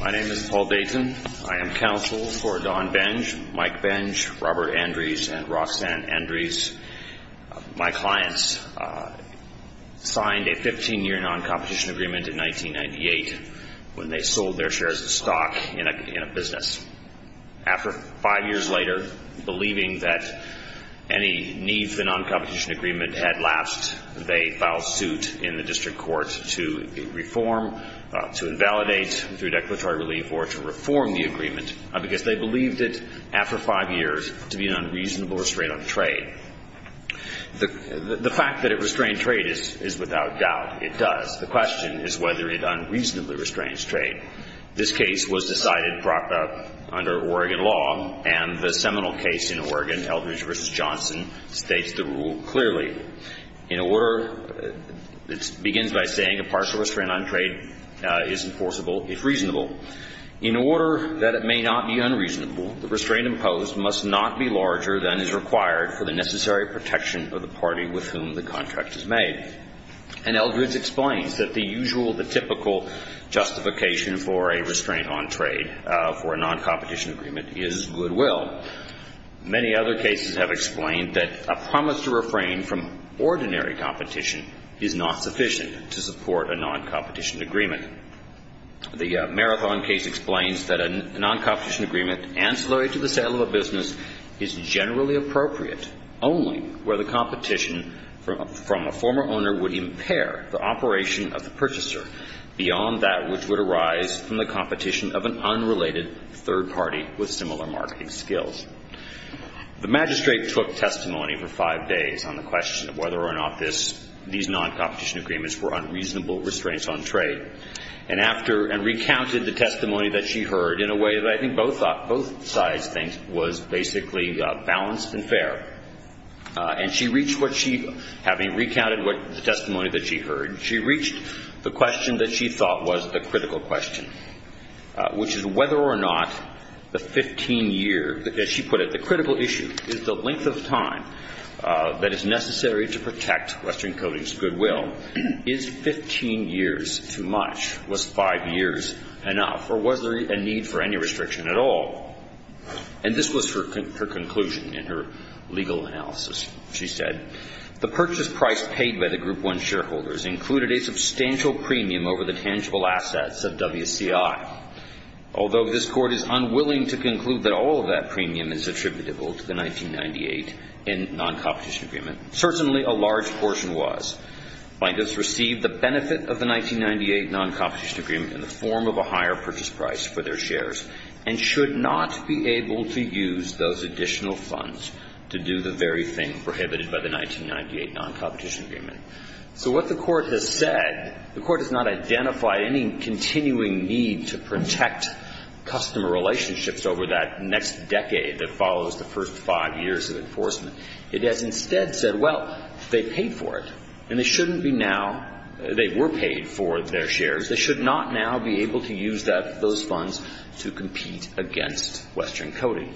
My name is Paul Dayton. I am counsel for Don Benge, Mike Benge, Robert Andrees, and Roxanne Andrees. My clients signed a 15-year non-competition agreement in 1998 when they shared a stock in a business. After five years later, believing that any need for the non-competition agreement had lapsed, they filed suit in the district court to reform, to invalidate through declaratory relief, or to reform the agreement because they believed it, after five years, to be an unreasonable restraint on trade. The fact that it restrained trade is without doubt, it does. The question is whether it unreasonably restrains trade. This case was decided under Oregon law, and the seminal case in Oregon, Eldridge v. Johnson, states the rule clearly. In order, it begins by saying a partial restraint on trade is enforceable if reasonable. In order that it may not be unreasonable, the restraint imposed must not be larger than is required for the necessary protection of the party with whom the contract is made. And Eldridge explains that the usual, the typical justification for a restraint on trade for a non-competition agreement is goodwill. Many other cases have explained that a promise to refrain from ordinary competition is not sufficient to support a non-competition agreement. The Marathon case explains that a non-competition agreement ancillary to the sale of a business is generally appropriate only where the competition from a former owner would impair the operation of the purchaser beyond that which would arise from the competition of an unrelated third party with similar marketing skills. The magistrate took testimony for five days on the question of whether or not this, these non-competition agreements were unreasonable restraints on trade, and after, and recounted the testimony that she heard in a way that I think both sides think was basically balanced and fair, and she reached what she, having recounted what, the testimony that she heard, she reached the question that she thought was the critical question, which is whether or not the 15 years, as she put it, the critical issue is the length of time that is necessary to protect Western or any restriction at all. And this was her conclusion in her legal analysis. She said, the purchase price paid by the Group 1 shareholders included a substantial premium over the tangible assets of WCI. Although this Court is unwilling to conclude that all of that premium is attributable to the 1998 non-competition agreement, certainly a large portion was. Bankers received the benefit of the 1998 non-competition agreement in the form of a higher purchase price for their shares, and should not be able to use those additional funds to do the very thing prohibited by the 1998 non-competition agreement. So what the Court has said, the Court has not identified any continuing need to protect customer relationships over that next decade that follows the first five years of enforcement. It has instead said, well, they paid for it, and they shouldn't be now, they were paid for their shares. They should not now be able to use those funds to compete against Western Coding.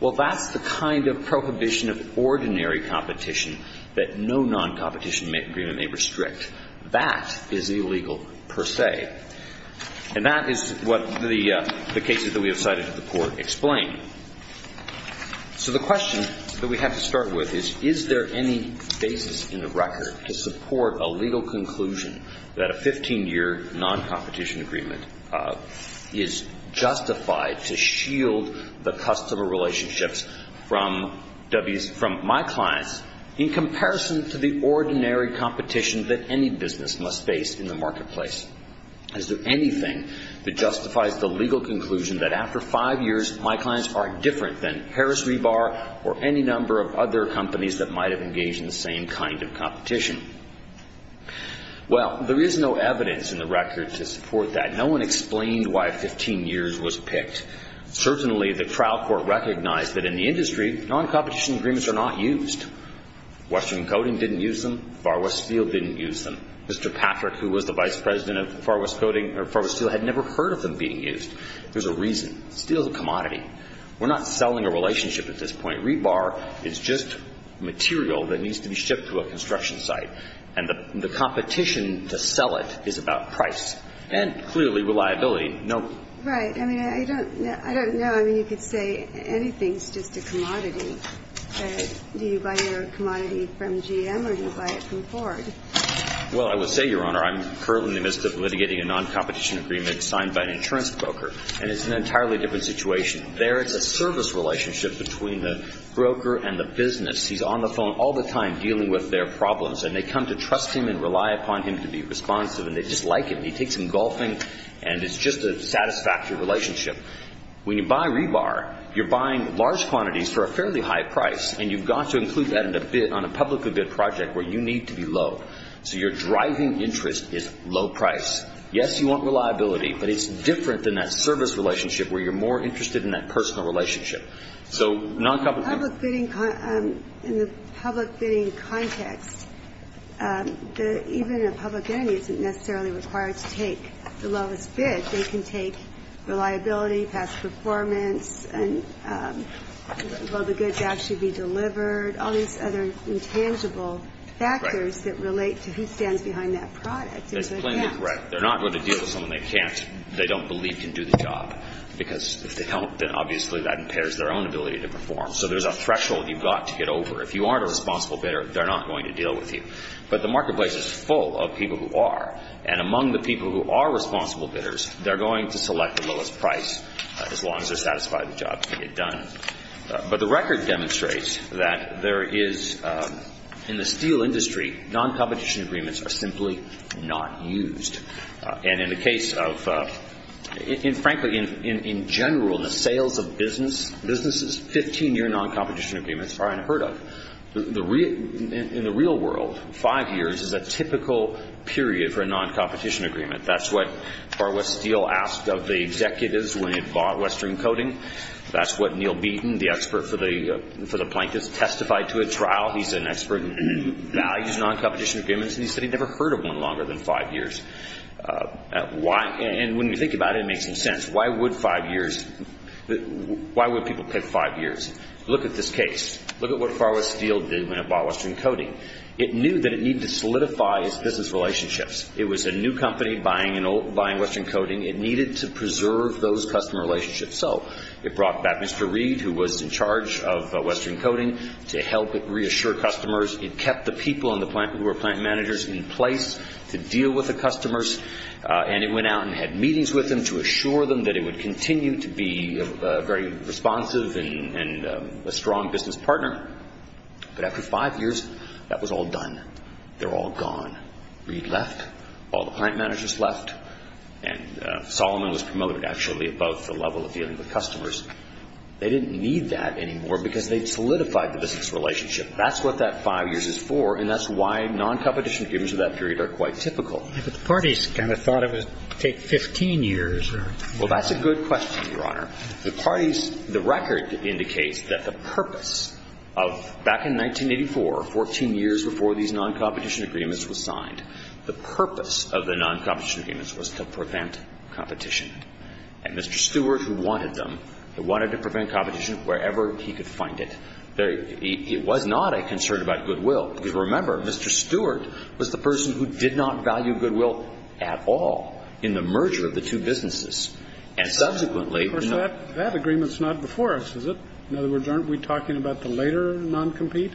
Well, that's the kind of prohibition of ordinary competition that no non-competition agreement may restrict. That is illegal per se. And that is what the cases that we have cited to the Court explain. So the question that we have to start with is, is there any basis in the record to support a legal conclusion that a 15-year non-competition agreement is justified to shield the customer relationships from my clients in comparison to the ordinary competition that any business must face in the marketplace? Is there anything that justifies the legal conclusion that after five years, my clients are different than Harris Rebar or any number of other companies that might have engaged in the same kind of competition? Well, there is no evidence in the record to support that. No one explained why 15 years was picked. Certainly, the trial court recognized that in the industry, non-competition agreements are not used. Western Coding didn't use them. Far West Steel didn't use them. Mr. Patrick, who was the Vice President of Far West Coding, or Far West Steel, had never heard of them being used. There's a reason. Steel is a commodity. We're not selling a relationship at this point. Rebar is just material that needs to be shipped to a construction site. And the competition to sell it is about price and, clearly, reliability. Right. I mean, I don't know. I mean, you could say anything's just a commodity. Do you buy your commodity from GM or do you buy it from Ford? Well, I would say, Your Honor, I'm currently in the midst of litigating a non-competition agreement signed by an insurance broker. And it's an entirely different situation. There is a service relationship between the broker and the business. He's on the phone all the time dealing with their problems. And they come to trust him and rely upon him to be responsive. And they just like him. He takes him golfing and it's just a satisfactory relationship. When you buy rebar, you're buying large quantities for a fairly high price. And you've got to include that on a publicly bid project where you need to be low. So your driving interest is low price. Yes, you want reliability. But it's different than that service relationship where you're more interested in that personal relationship. So non-competition. In the public bidding context, even a public entity isn't necessarily required to take the lowest bid. They can take reliability, past performance, and will the goods actually be delivered, all these other intangible factors that relate to who stands behind that product. That's plainly correct. They're not going to deal with someone they can't, they don't believe can do the job. Because if they don't, then obviously that impairs their own ability to perform. So there's a threshold you've got to get over. If you aren't a responsible bidder, they're not going to deal with you. But the marketplace is full of people who are. And among the people who are responsible bidders, they're going to select the lowest price as long as they're satisfied the job can get done. But the record demonstrates that there is, in the steel industry, non-competition agreements are simply not used. And in the industry, frankly, in general, the sales of businesses, 15-year non-competition agreements are unheard of. In the real world, five years is a typical period for a non-competition agreement. That's what Barbara Steele asked of the executives when it bought Western Coating. That's what Neil Beaton, the expert for the plaintiffs, testified to at trial. He's an expert and values non-competition agreements. And he said he'd never heard of one longer than five years. And when you think about it, it makes some sense. Why would people pick five years? Look at this case. Look at what Far West Steel did when it bought Western Coating. It knew that it needed to solidify its business relationships. It was a new company buying Western Coating. It needed to preserve those customer relationships. So it brought back Mr. Reed, who was in charge of Western Coating, to help it reassure customers. It would deal with the customers. And it went out and had meetings with them to assure them that it would continue to be a very responsive and a strong business partner. But after five years, that was all done. They were all gone. Reed left. All the client managers left. And Solomon was promoted, actually, above the level of dealing with customers. They didn't need that anymore because they'd solidified the business relationship. That's what that Now, the non-competition agreements of that period are quite typical. But the parties kind of thought it would take 15 years. Well, that's a good question, Your Honor. The parties, the record indicates that the purpose of back in 1984, 14 years before these non-competition agreements were signed, the purpose of the non-competition agreements was to prevent competition. And Mr. Stewart, who wanted them, wanted to prevent competition wherever he could find it. It was not a concern about goodwill. Because remember, Mr. Stewart was the person who did not value goodwill at all in the merger of the two businesses. And subsequently Of course, that agreement's not before us, is it? In other words, aren't we talking about the later non-compete?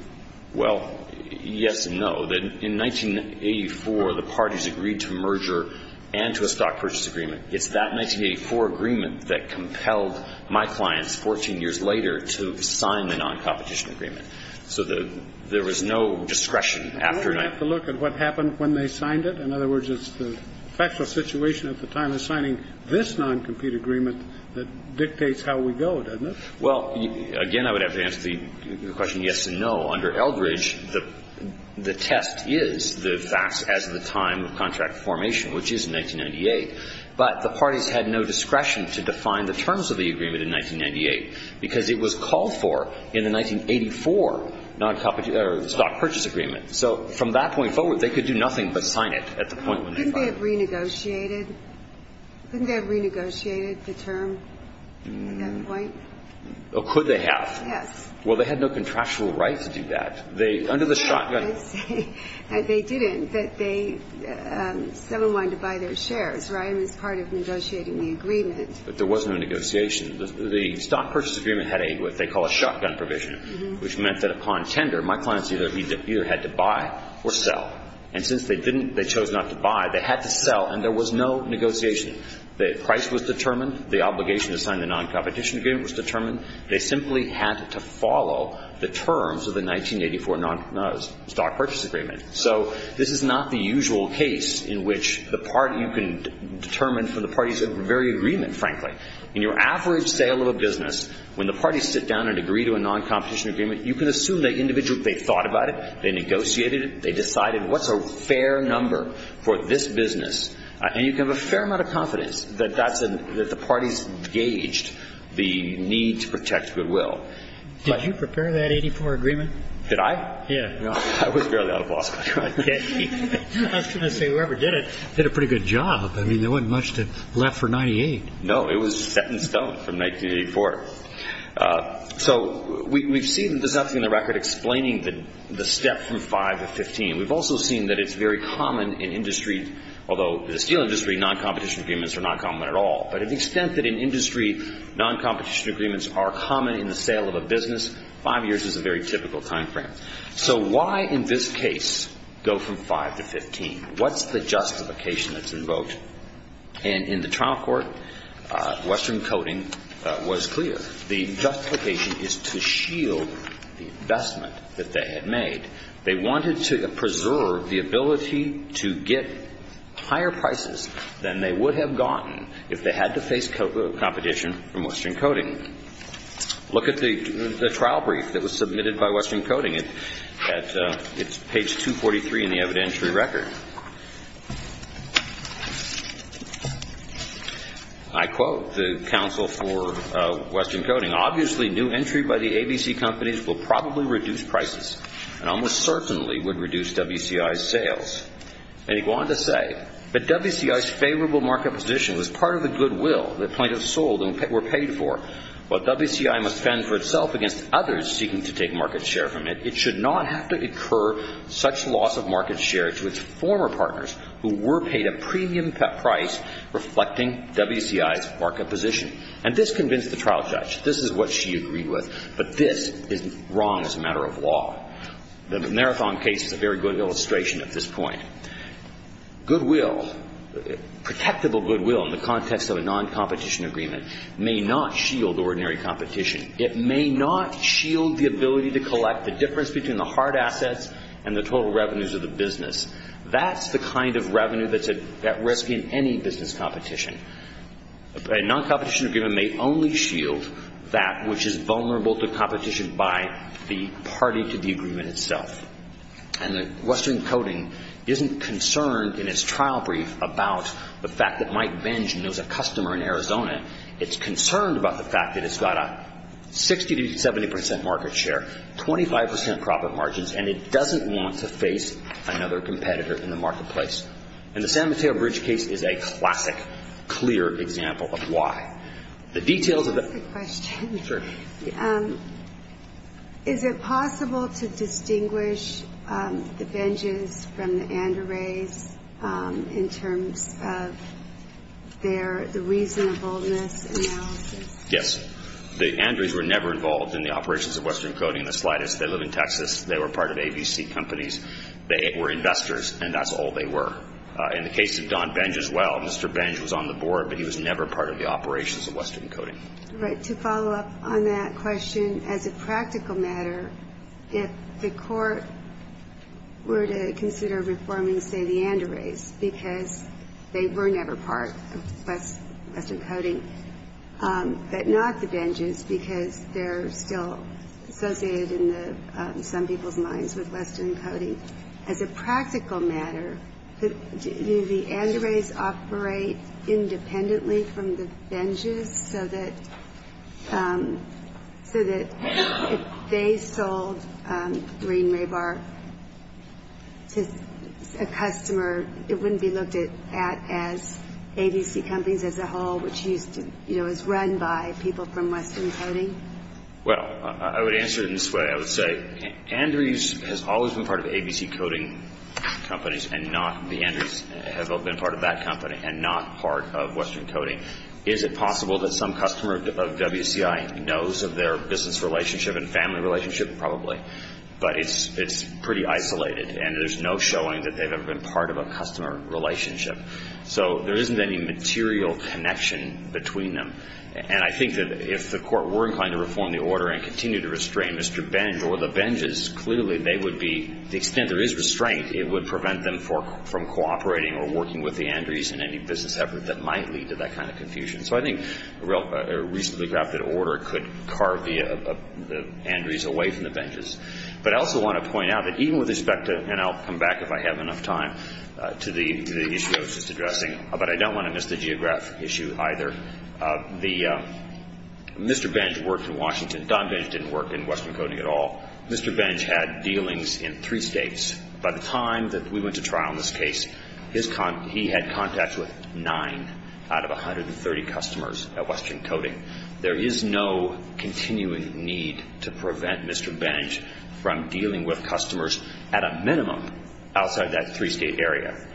Well, yes and no. In 1984, the parties agreed to merger and to a stock purchase agreement. It's that 1984 agreement that compelled my clients 14 years later to sign the non-competition agreement. So there was no discretion after that. Do we have to look at what happened when they signed it? In other words, it's the factual situation at the time of signing this non-compete agreement that dictates how we go, doesn't it? Well, again, I would have to answer the question yes and no. Under Eldridge, the test is the time of contract formation, which is in 1998. But the parties had no discretion to define the terms of the agreement in 1998, because it was called for in the 1984 non-compete or the stock purchase agreement. So from that point forward, they could do nothing but sign it at the point when they signed it. Couldn't they have renegotiated? Couldn't they have renegotiated the term at that point? Oh, could they have? Yes. Well, they had no contractual right to do that. They, under the shotgun provision, which meant that upon tender, my clients either had to buy or sell. And since they didn't, they chose not to buy, they had to sell, and there was no negotiation. The price was determined. The obligation to sign the non-competition agreement was determined. They simply had to follow the terms of the 1984 non-competition They had no right to do that. So this is not the usual case in which you can determine from the parties' very agreement, frankly. In your average sale of a business, when the parties sit down and agree to a non-competition agreement, you can assume that individually they thought about it, they negotiated it, they decided what's a fair number for this business. And you can have a fair amount of confidence that the parties gauged the need to protect goodwill. Did you prepare that 1984 agreement? Did I? Yeah. I was barely out of law school. I was going to say, whoever did it, did a pretty good job. I mean, there wasn't much left for 98. No, it was set in stone from 1984. So we've seen, there's nothing in the record explaining the step from 5 to 15. We've also seen that it's very common in industry, although in the steel industry, non-competition agreements are not common at all. But to the extent that in industry, non-competition agreements are common in the sale of a business, five years is a very typical time frame. So why in this case go from 5 to 15? What's the justification that's invoked? And in the trial court, Western Coding was clear. The justification is to shield the investment that they had made. They wanted to preserve the ability to get higher prices than they would have gotten if they had to face competition from Western Coding. Look at the trial brief that was submitted by Western Coding. It's page 243 in the evidentiary record. I quote the counsel for Western Coding, Obviously, new entry by the ABC companies will probably reduce prices and almost certainly would reduce WCI's sales. And he went on to say, But WCI's favorable market position was part of the goodwill that plaintiffs sold and were paid for. While WCI must fend for itself against others seeking to take market share from it, it should not have to occur such loss of market share to its former partners who were paid a premium price reflecting WCI's market position. And this convinced the trial judge. This is what she agreed with. But this is wrong as a matter of law. The Marathon case is a very good illustration at this point. Goodwill, protectable goodwill in the context of a non-competition agreement, may not shield ordinary competition. It may not shield the ability to collect the difference between the hard assets and the total revenues of the business. That's the kind of revenue that's at risk in any business competition. A non-competition agreement may only shield that which is vulnerable to competition by the party to the agreement itself. And Western Coding isn't concerned in its trial brief about the fact that Mike Benjamin knows a customer in Arizona. It's concerned about the fact that it's got a 60 to 70% market share, 25% profit margins, and it doesn't want to face another competitor in the marketplace. And the San Mateo Bridge case is a classic, clear example of why. The details of the... Sure. Is it possible to distinguish the Benjes from the Andres in terms of their reasonableness analysis? Yes. The Andres were never involved in the operations of Western Coding in the slightest. They live in Texas. They were part of ABC companies. They were investors, and that's all they were. In the case of Don Benj as well, Mr. Benj was on the board, but he was never part of the operations of Western Coding. Right. To follow up on that question, as a practical matter, if the Court were to consider reforming, say, the Andres because they were never part of Western Coding, but not the Benjes because they're still associated in some people's minds with Western Coding, as a practical matter, do the Andres operate independently from the Benjes so that if they sold Green Raybar to a customer, it wouldn't be looked at as ABC companies as a whole, which is run by people from Western Coding? Well, I would answer it in this way. I would say Andres has always been part of ABC Coding companies and not the Andres have been part of that company and not part of Western Coding. Is it possible that some customer of WCI knows of their business relationship and family relationship? Probably. But it's pretty isolated, and there's no showing that they've ever been part of a customer relationship. So there isn't any material connection between them. And I think that if the Court were inclined to reform the order and continue to restrain Mr. Benj or the Benjes, clearly they would be, to the extent there is restraint, it would prevent them from cooperating or working with the Andres in any business effort that might lead to that kind of confusion. So I think a recently drafted order could carve the Andres away from the Benjes. But I also want to point out that even with respect to, and I'll come back if I have enough time, to the issue I was just addressing, but I don't want to miss the geographic issue either. Mr. Benj worked in Washington. Don Benj didn't work in Western Coding at all. Mr. Benj had dealings in three states. By the time that we went to trial in this case, he had contacts with nine out of 130 customers at Western Coding. There is no continuing need to prevent Mr. Benj from dealing with customers at a minimum outside that three-state area.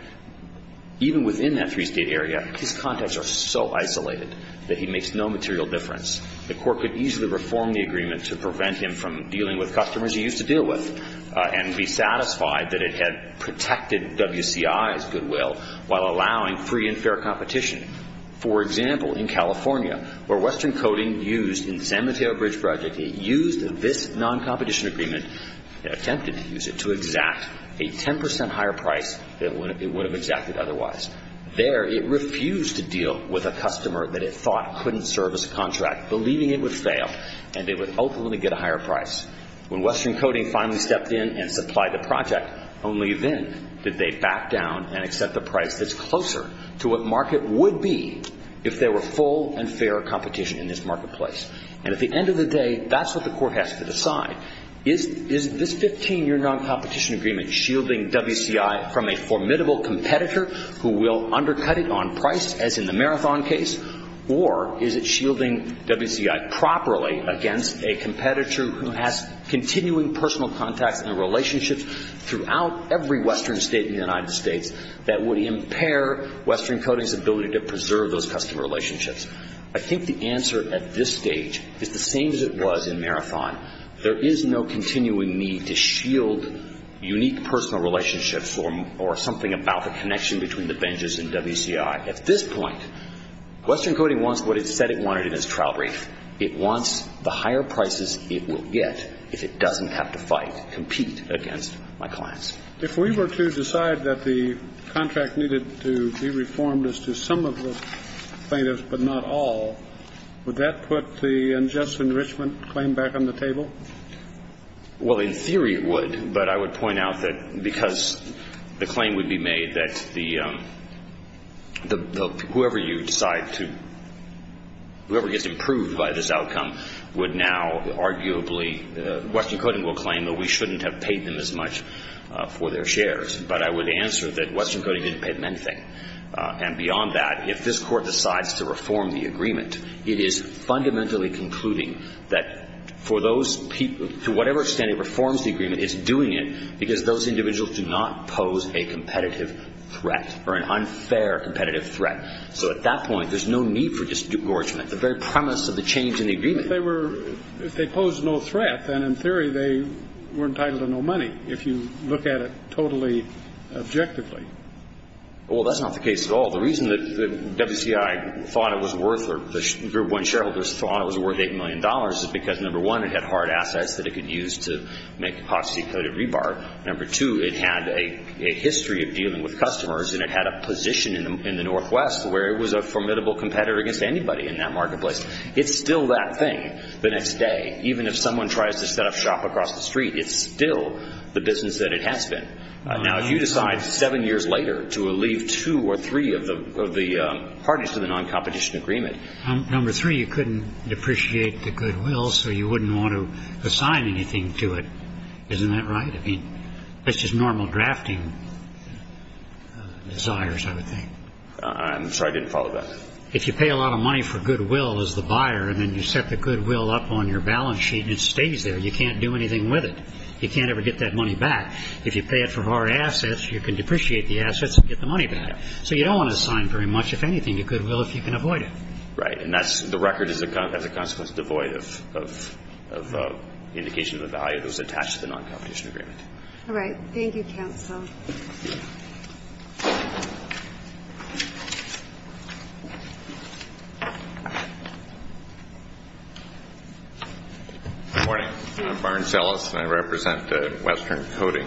Even within that three-state area, his contacts are so isolated that he makes no material difference. The Court could easily reform the agreement to prevent him from dealing with customers he used to deal with and be satisfied that it had protected WCI's goodwill while allowing free and fair competition. For example, in California, where Western Coding used in the San Mateo Bridge Project, it used this non-competition agreement, attempted to use it, to exact a 10 percent higher price than it would have exacted otherwise. There, it refused to deal with a customer that it thought couldn't serve as a contract, believing it would ultimately get a higher price. When Western Coding finally stepped in and supplied the project, only then did they back down and accept a price that's closer to what market would be if there were full and fair competition in this marketplace. And at the end of the day, that's what the Court has to decide. Is this 15-year non-competition agreement shielding WCI from a formidable competitor who will undercut it on price, as in the Marathon case, or is it properly against a competitor who has continuing personal contacts and relationships throughout every Western state in the United States that would impair Western Coding's ability to preserve those customer relationships? I think the answer at this stage is the same as it was in Marathon. There is no continuing need to shield unique personal relationships or something about the connection between the benches and WCI. At this point, Western Coding wants what it said it wanted in its trial brief. It wants the higher prices it will get if it doesn't have to fight, compete against my clients. If we were to decide that the contract needed to be reformed as to some of the plaintiffs but not all, would that put the unjust enrichment claim back on the table? Well, in theory it would, but I would point out that because the claim would be made that whoever gets improved by this outcome would now arguably, Western Coding will claim that we shouldn't have paid them as much for their shares, but I would answer that Western Coding didn't pay them anything. And beyond that, if this Court decides to reform the agreement, it is fundamentally concluding that for those people, to whatever extent it reforms the agreement, it's doing it because those individuals do not pose a competitive threat or an unfair competitive threat. So at that point, there's no need for disengagement, the very premise of the change in the agreement. But if they posed no threat, then in theory they were entitled to no money, if you look at it totally objectively. Well, that's not the case at all. The reason that WCI thought it was worth, or when shareholders thought it was worth $8 million is because, number one, it had hard assets that it could use to make epoxy-coated rebar. Number two, it had a history of dealing with customers, and it had a position in the Northwest where it was a formidable competitor against anybody in that marketplace. It's still that thing. The next day, even if someone tries to set up shop across the street, it's still the business that it has been. Now, if you decide seven years later to leave two or three of the parties to the non-competition agreement... I'm sorry. I didn't follow that. If you pay a lot of money for goodwill as the buyer, and then you set the goodwill up on your balance sheet and it stays there, you can't do anything with it. You can't ever get that money back. If you pay it for hard assets, you can depreciate the assets and get the money back. So you don't want to assign very much, if anything, to goodwill if you can avoid it. Right. And that's the record as a consequence devoid of goodwill. All right. Thank you, counsel. Good morning. I'm Barnes Ellis, and I represent Western Coding.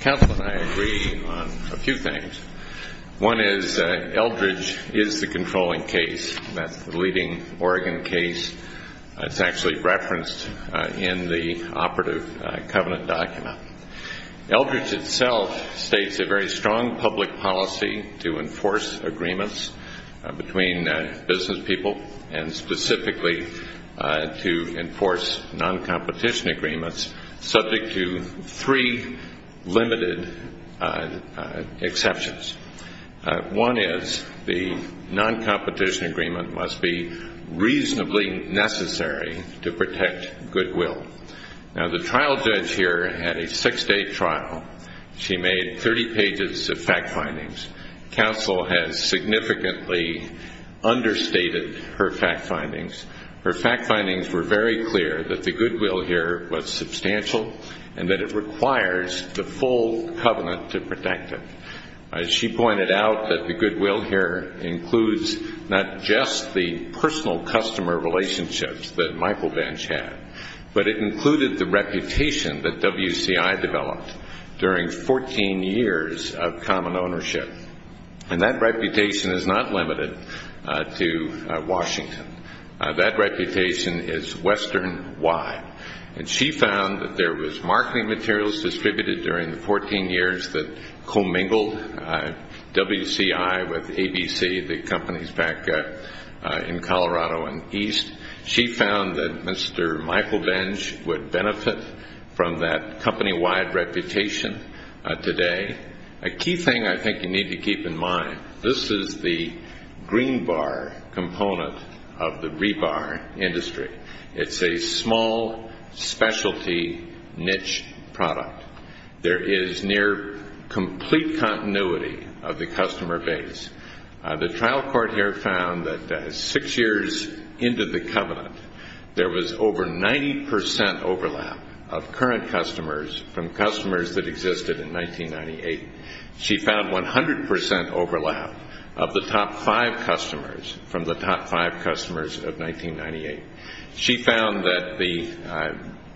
Counsel and I agree on a few things. One is Eldridge is the controlling case. That's the competing Oregon case. It's actually referenced in the operative covenant document. Eldridge itself states a very strong public policy to enforce agreements between business people and specifically to enforce non-competition agreements, subject to three limited exceptions. One is the non-competition agreement must be reasonably necessary to protect goodwill. Now, the trial judge here had a six-day trial. She made 30 pages of fact findings. Counsel has significantly understated her fact findings. Her fact findings were very clear that the goodwill here was substantial and that it includes not just the personal customer relationships that Michael Bench had, but it included the reputation that WCI developed during 14 years of common ownership. And that reputation is not limited to Washington. That reputation is Western-wide. And she found that there was marketing materials distributed during the 14 years that commingled WCI with ABC, the companies back in Colorado and East. She found that Mr. Michael Bench would benefit from that company-wide reputation today. A key thing I think you need to keep in mind, this is the green bar component of the rebar industry. It's a small specialty niche product. There is near complete continuity of the customer base. The trial court here found that six years into the covenant, there was over 90 percent overlap of current customers from customers that existed in 1998. She found 100 percent overlap of the top five customers from the top five customers of 1998. She found that the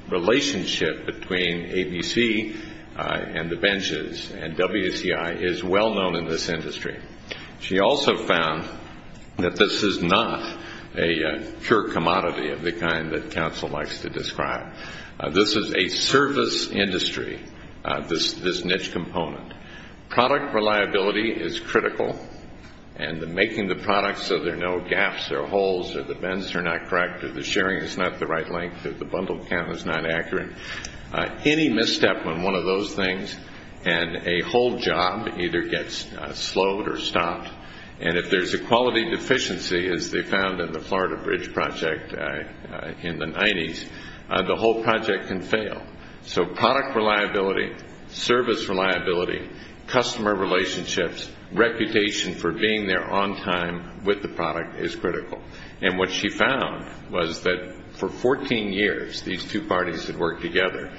relationship between ABC and the Benches and WCI is well known in this industry. She also found that this is not a pure commodity of the kind that counsel likes to describe. This is a service industry, this niche component. Product reliability is key. You want to make sure that you have the right products so there are no gaps or holes or the bends are not correct or the sharing is not the right length or the bundle count is not accurate. Any misstep on one of those things and a whole job either gets slowed or stopped. And if there's a quality deficiency, as they found in the Florida Bridge Project in the 90s, the whole problem with the product is critical. And what she found was that for 14 years these two parties had worked together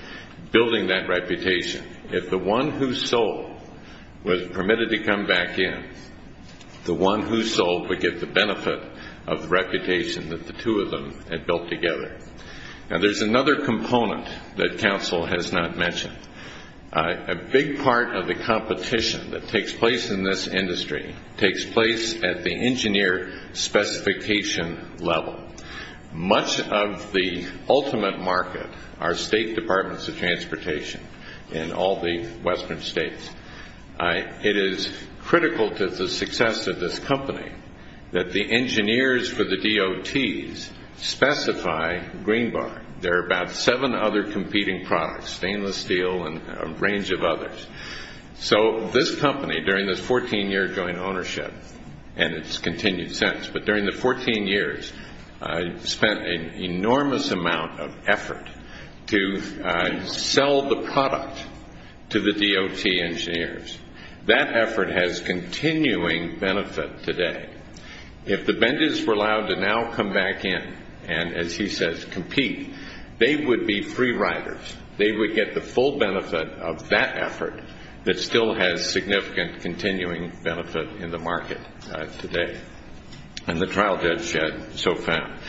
building that reputation. If the one who sold was permitted to come back in, the one who sold would get the benefit of the reputation that the two of them had built together. And there's another component that counsel has not mentioned. A big part of the competition that we have is the engineer specification level. Much of the ultimate market are state departments of transportation in all the western states. It is critical to the success of this company that the engineers for the DOTs specify green bar. There are about seven other competing products, stainless steel and a range of others. So this company during this 14 year joint ownership and its continued success, but during the 14 years spent an enormous amount of effort to sell the product to the DOT engineers. That effort has continuing benefit today. If the Bendys were allowed to now come back in and, as he says, compete, they would be free riders. They would get the full benefit of that effort that still has significant continuing benefit in the market today. And the trial judge yet so found.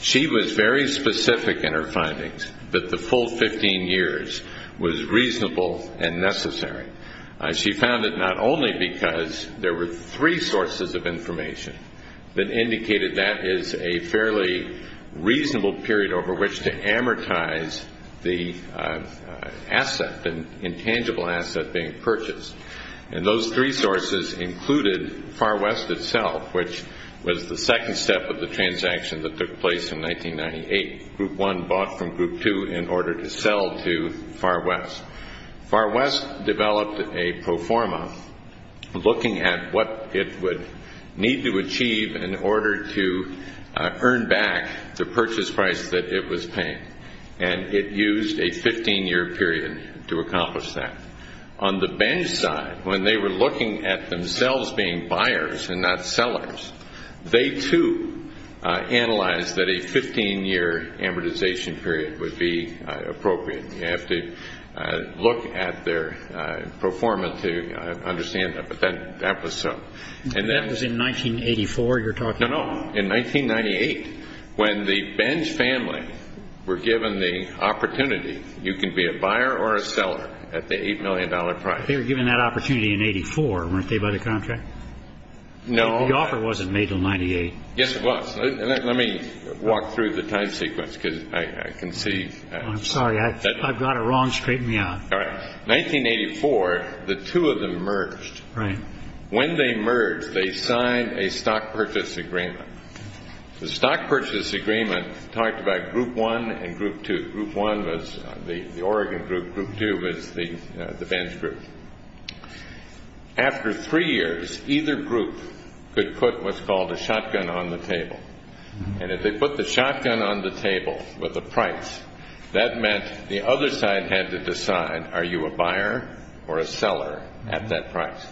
She was very specific in her findings that the full 15 years was reasonable and necessary. She found that not only because there were three sources of information that indicated that is a fairly reasonable period over which to amortize the asset, the intangible asset being purchased. And those three sources included Far West itself, which was the second step of the transaction that took place in 1998. Group 1 bought from Group 2 in order to sell to Far West. Far West developed a pro forma looking at what it would need to achieve in order to earn back the purchase price that it was paying. And it used a 15 year period to accomplish that. On the Bendys side, when they were looking at themselves being buyers and not sellers, they, too, analyzed that a 15 year amortization period would be appropriate. You have to look at their pro forma to understand that. But that was so. And that was in 1984 you're talking about? No, no. In 1998, when the Bendys family were given the opportunity, you can be a buyer or a seller at the $8 million price. They were given that opportunity in 84, weren't they, by the end of 1998? Yes, it was. Let me walk through the time sequence because I can see. I'm sorry. I've got it wrong. Straighten me out. 1984, the two of them merged. When they merged, they signed a stock purchase agreement. The stock purchase agreement talked about Group 1 and Group 2. Group 1 was the Oregon group. Group 2 was the Bendys group. After three years, either group could put the shotgun on the table. And if they put the shotgun on the table with a price, that meant the other side had to decide, are you a buyer or a seller at that price?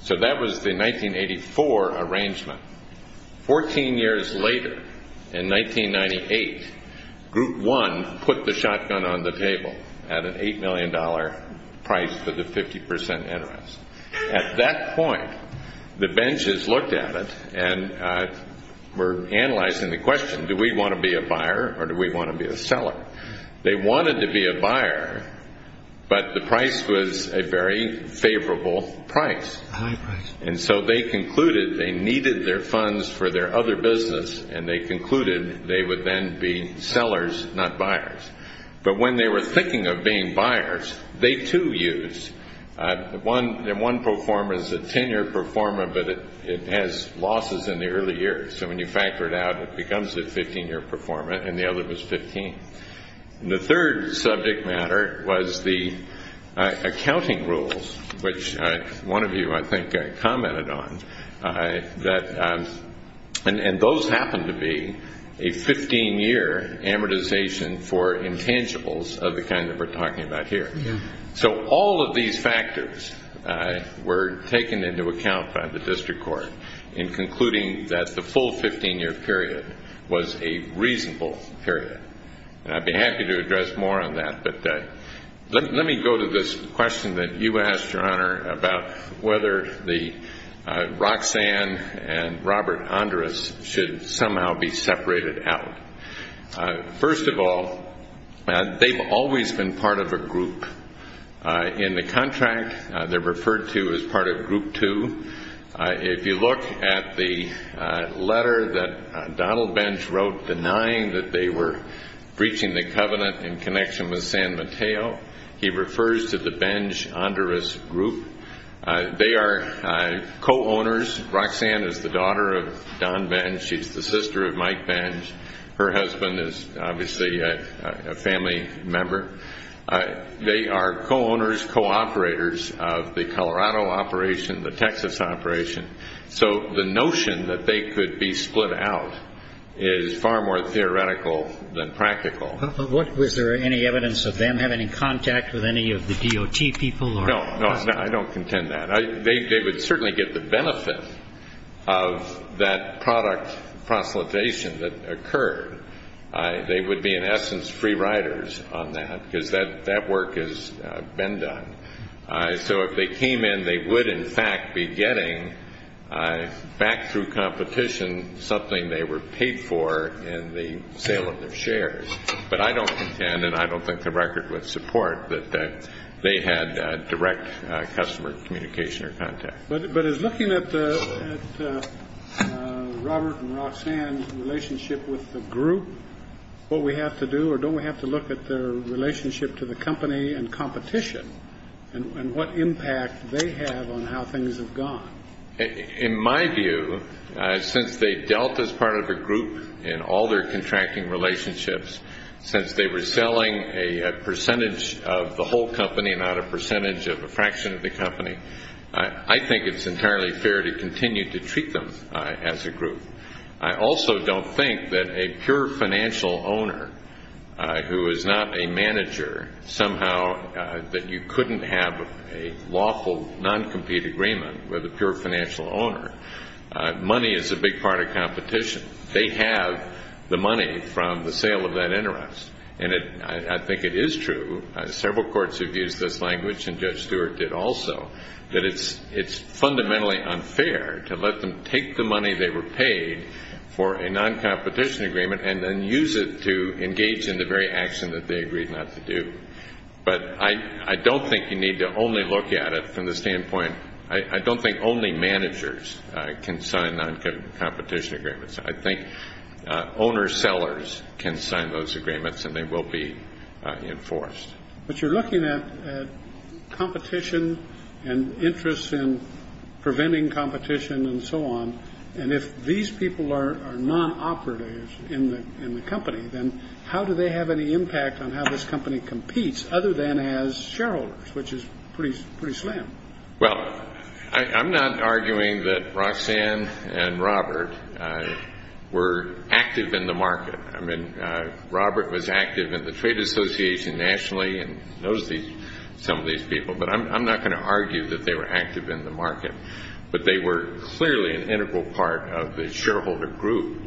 So that was the 1984 arrangement. Fourteen years later, in 1998, Group 1 put the shotgun on the table at an $8 million price for the 50% interest. At that point, the Bendys looked at it and were analyzing the question, do we want to be a buyer or do we want to be a seller? They wanted to be a buyer, but the price was a very favorable price. And so they concluded they needed their funds for their other business, and they concluded they would then be sellers, not buyers. But when they were thinking of being buyers, they had two views. One performer is a 10-year performer, but it has losses in the early years. So when you factor it out, it becomes a 15-year performer, and the other was 15. The third subject matter was the accounting rules, which one of you, I think, commented on. And those happened to be a 15-year amortization for the district court. So all of these factors were taken into account by the district court in concluding that the full 15-year period was a reasonable period. I'd be happy to address more on that, but let me go to this question that you asked, Your Honor, about whether Roxanne and Robert Andrus should somehow be separated out. First of all, they've always been part of a group in the contract. They're referred to as part of Group 2. If you look at the letter that Donald Bench wrote denying that they were breaching the covenant in connection with San Mateo, he refers to the Bench-Andrus group. They are co-owners. Roxanne is the daughter of Don Bench. She's the sister of Mike Bench. Her husband is obviously a family member. They are the co-owners of the Colorado operation, the Texas operation. So the notion that they could be split out is far more theoretical than practical. Was there any evidence of them having any contact with any of the DOT people? No, I don't contend that. They would certainly get the benefit of that product proselytization that occurred. They would be, in essence, free riders on that, because that work has been done. So if they came in, they would, in fact, be getting, back through competition, something they were paid for in the sale of their shares. But I don't contend, and I don't think the record would support, that they had direct customer communication or contact. But as looking at Robert and Roxanne's relationship with the group, what we have to do, or don't we have to look at their relationship to the company and competition and what impact they have on how things have gone? In my view, since they dealt as part of a group in all their contracting relationships, since they were selling a percentage of the whole company, not a percentage of a fraction of the company, I think it's entirely fair to continue to treat them as a group. I also don't think that a pure financial owner who is not a manager, somehow that you couldn't have a lawful, noncompete agreement with a pure financial owner. Money is a big part of competition. They have the money from the sale of that interest. And I think it is true. Several courts have used this language, and Judge Stewart did also, that it's fundamentally unfair to let them take the competition agreement and then use it to engage in the very action that they agreed not to do. But I don't think you need to only look at it from the standpoint, I don't think only managers can sign noncompetition agreements. I think owner-sellers can sign those agreements and they will be enforced. But you're looking at competition and interest in preventing competition and so on. And if these people are nonoperative in the company, then how do they have any impact on how this company competes other than as shareholders, which is pretty slim. Well, I'm not arguing that Roxanne and Robert were active in the market. I mean, Robert was active in the Trade Association nationally and knows some of these people. But I'm not going to argue that they were active in the market. They were an integral part of the shareholder group.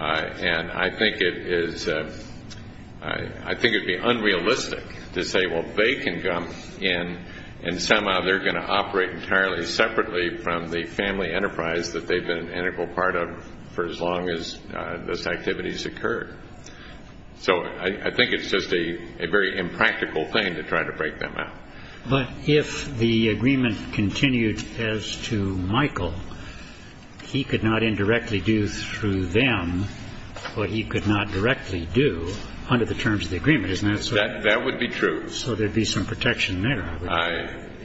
And I think it is I think it would be unrealistic to say, well, they can come in and somehow they're going to operate entirely separately from the family enterprise that they've been an integral part of for as long as this activity has occurred. So I think it's just a very impractical thing to try to break them out. But if the agreement continued as to Michael, he could not indirectly do through them what he could not directly do under the terms of the agreement, isn't that so? That would be true. So there'd be some protection there.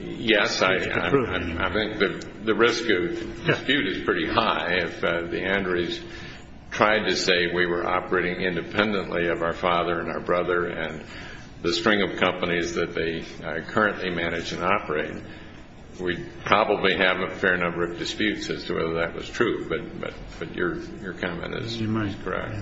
Yes, I think the risk of dispute is pretty high. If the Andres tried to say we were operating independently of our father and our brother and the string of companies that we currently manage and operate, we'd probably have a fair number of disputes as to whether that was true. But your comment is correct.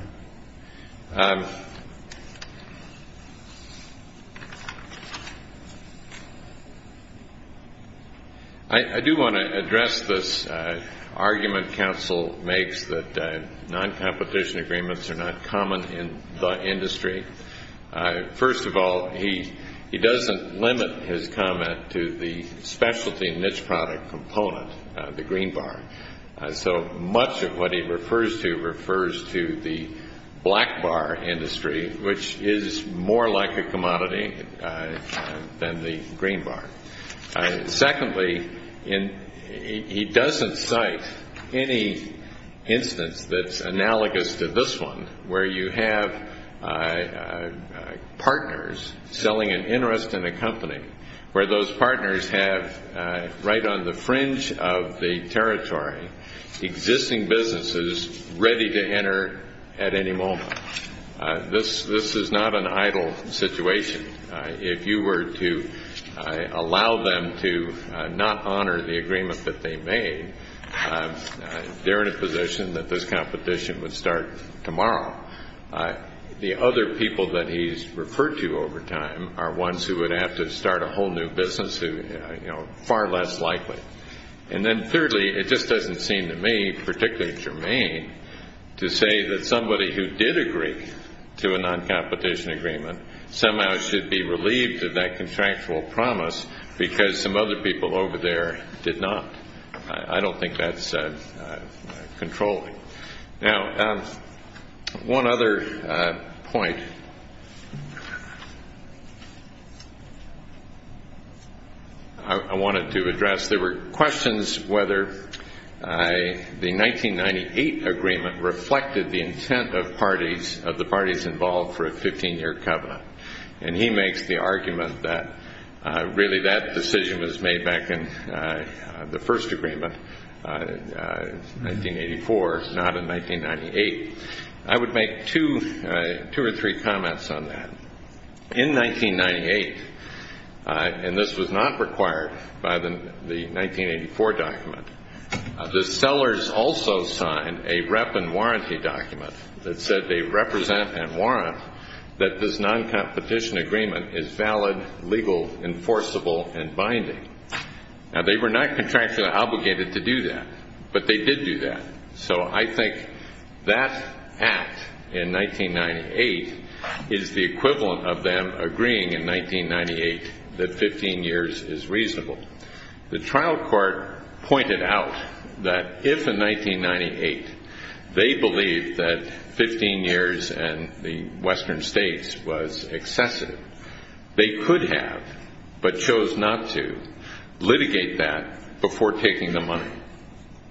I do want to address this argument Council makes that non-competition agreements are not common in the industry. First of all, he doesn't limit his comment to the specialty niche product component, the green bar. So much of what he refers to refers to the black bar industry, which is more like a commodity than the green bar. Secondly, he doesn't cite any instance that's analogous to this one where you have partners selling an interest in a company, where those partners have right on the fringe of the territory existing businesses ready to enter at any moment. This is not an idle situation. If you were to allow them to not honor the agreement that they made, they're in a position that this competition would start tomorrow. The other people that he's referred to over time are ones who would have to start a whole new business who are far less likely. And then thirdly, it just doesn't seem to me particularly germane to say that somebody who did agree to a non-competition agreement somehow should be relieved of that contractual promise because some other people over there did not. I don't think that's controlling. Now, one other point I wanted to address. There were questions whether the 1998 agreement reflected the intent of the parties involved for a 15-year covenant. And he makes the argument that really that decision was made back in the first agreement, 1984, not in 1998. I would make two or three comments on that. In 1998, and this was not required by the 1984 document, the sellers also signed a rep and warranty document that said they represent and warrant that this non-competition agreement is valid, legal, enforceable, and binding. Now they were not contractually obligated to do that, but they did do that. So I think that act in 1998 is the equivalent of them agreeing in 1998 that 15 years is reasonable. The trial court pointed out that if in 1998 they believed that 15 years in the western states was excessive, they could have but chose not to do that before taking the money.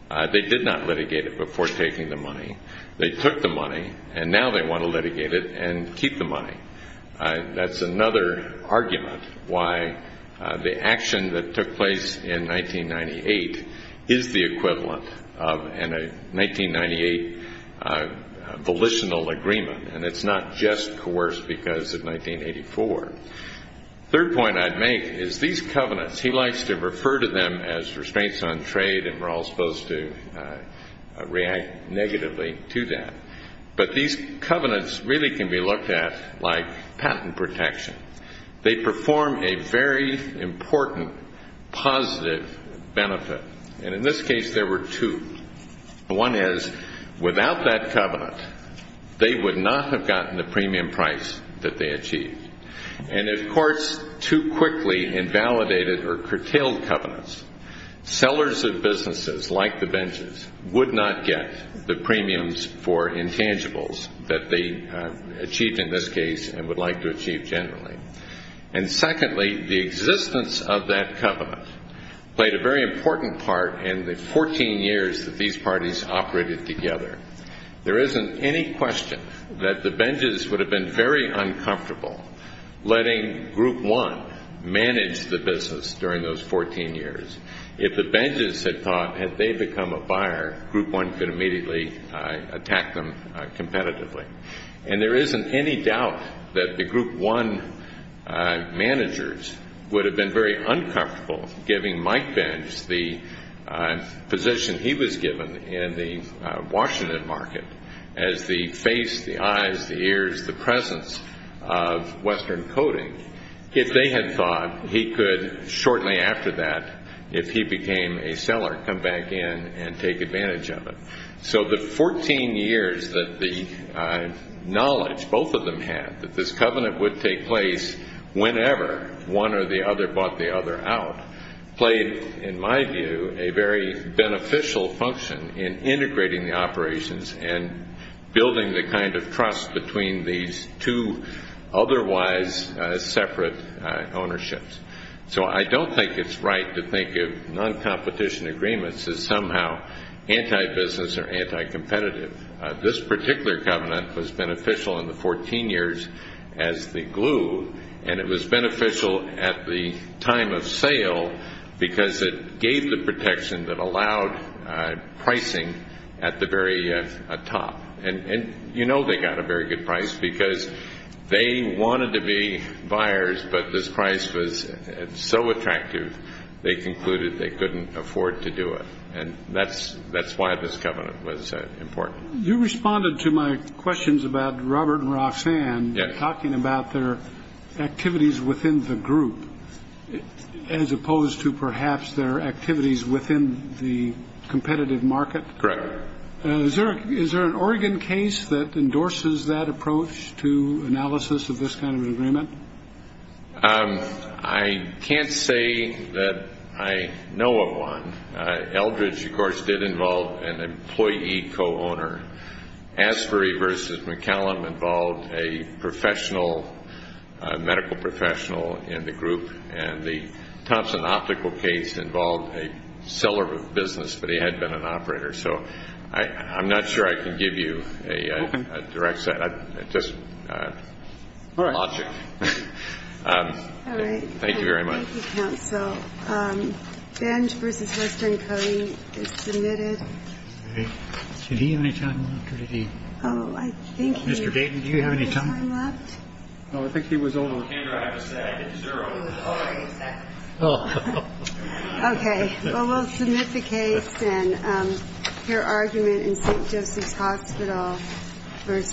They did not litigate it before taking the money. They took the money, and now they want to litigate it and keep the money. That's another argument why the action that took place in 1998 is the equivalent of a 1998 volitional agreement. And it's not just coerced because of 1984. The third point I'd make is these covenants, he likes to refer to them as restraints on trade, and we're all supposed to react negatively to that. But these covenants really can be looked at like patent protection. They perform a very important positive benefit. And in this case, there were two. One is without that covenant, they would not have gotten the premium price that they achieved. And if courts too quickly invalidated or curtailed covenants, sellers of businesses like the Benjes would not get the premiums for intangibles that they achieved in this case and would like to achieve generally. And secondly, the existence of that covenant played a very important part in the 14 years that these parties operated together. There isn't any question that the Benjes would have been very uncomfortable letting Group One manage the business during those 14 years. If the Benjes had thought, had they become a buyer, Group One could immediately attack them competitively. And there isn't any doubt that the Group One managers would have been very uncomfortable giving Mike Benjes the position he was given in the Washington market as the face, the eyes, the ears, the presence of Western coding. If they had thought, he could shortly after that, if he became a seller, come back in and take advantage of it. So the 14 years that the knowledge both of them had that this covenant would take place whenever one or the other bought the other out played, in my view, a very beneficial function in integrating the operations and building the kind of trust between these two otherwise separate ownerships. So I don't think it's right to think of non-competition agreements as somehow anti-business or anti-competitive. This particular covenant was beneficial in the 14 years as the glue, and it was beneficial at the time of sale because it gave the protection that allowed pricing at the very top. And you know they got away with it. They got a very good price because they wanted to be buyers, but this price was so attractive they concluded they couldn't afford to do it. And that's why this covenant was important. You responded to my questions about Robert and Roxanne talking about their activities within the group as opposed to perhaps their activities within the competitive market. Correct. Is there an Oregon case that involves that approach to analysis of this kind of agreement? I can't say that I know of one. Eldridge, of course, did involve an employee co-owner. Asbury v. McCallum involved a professional medical professional in the group, and the Thompson optical case involved a seller of business, but he had been an employee for a long time. I can't say that I know of a case involving that. It's just logic. All right. Thank you very much. Thank you, counsel. Benge v. Western Coney is submitted. Did he have any time left? Mr. Dayton, do you have any time left? No, I think he was on. Okay. Well, we'll submit the case and hear argument in St. Joseph's Hospital v.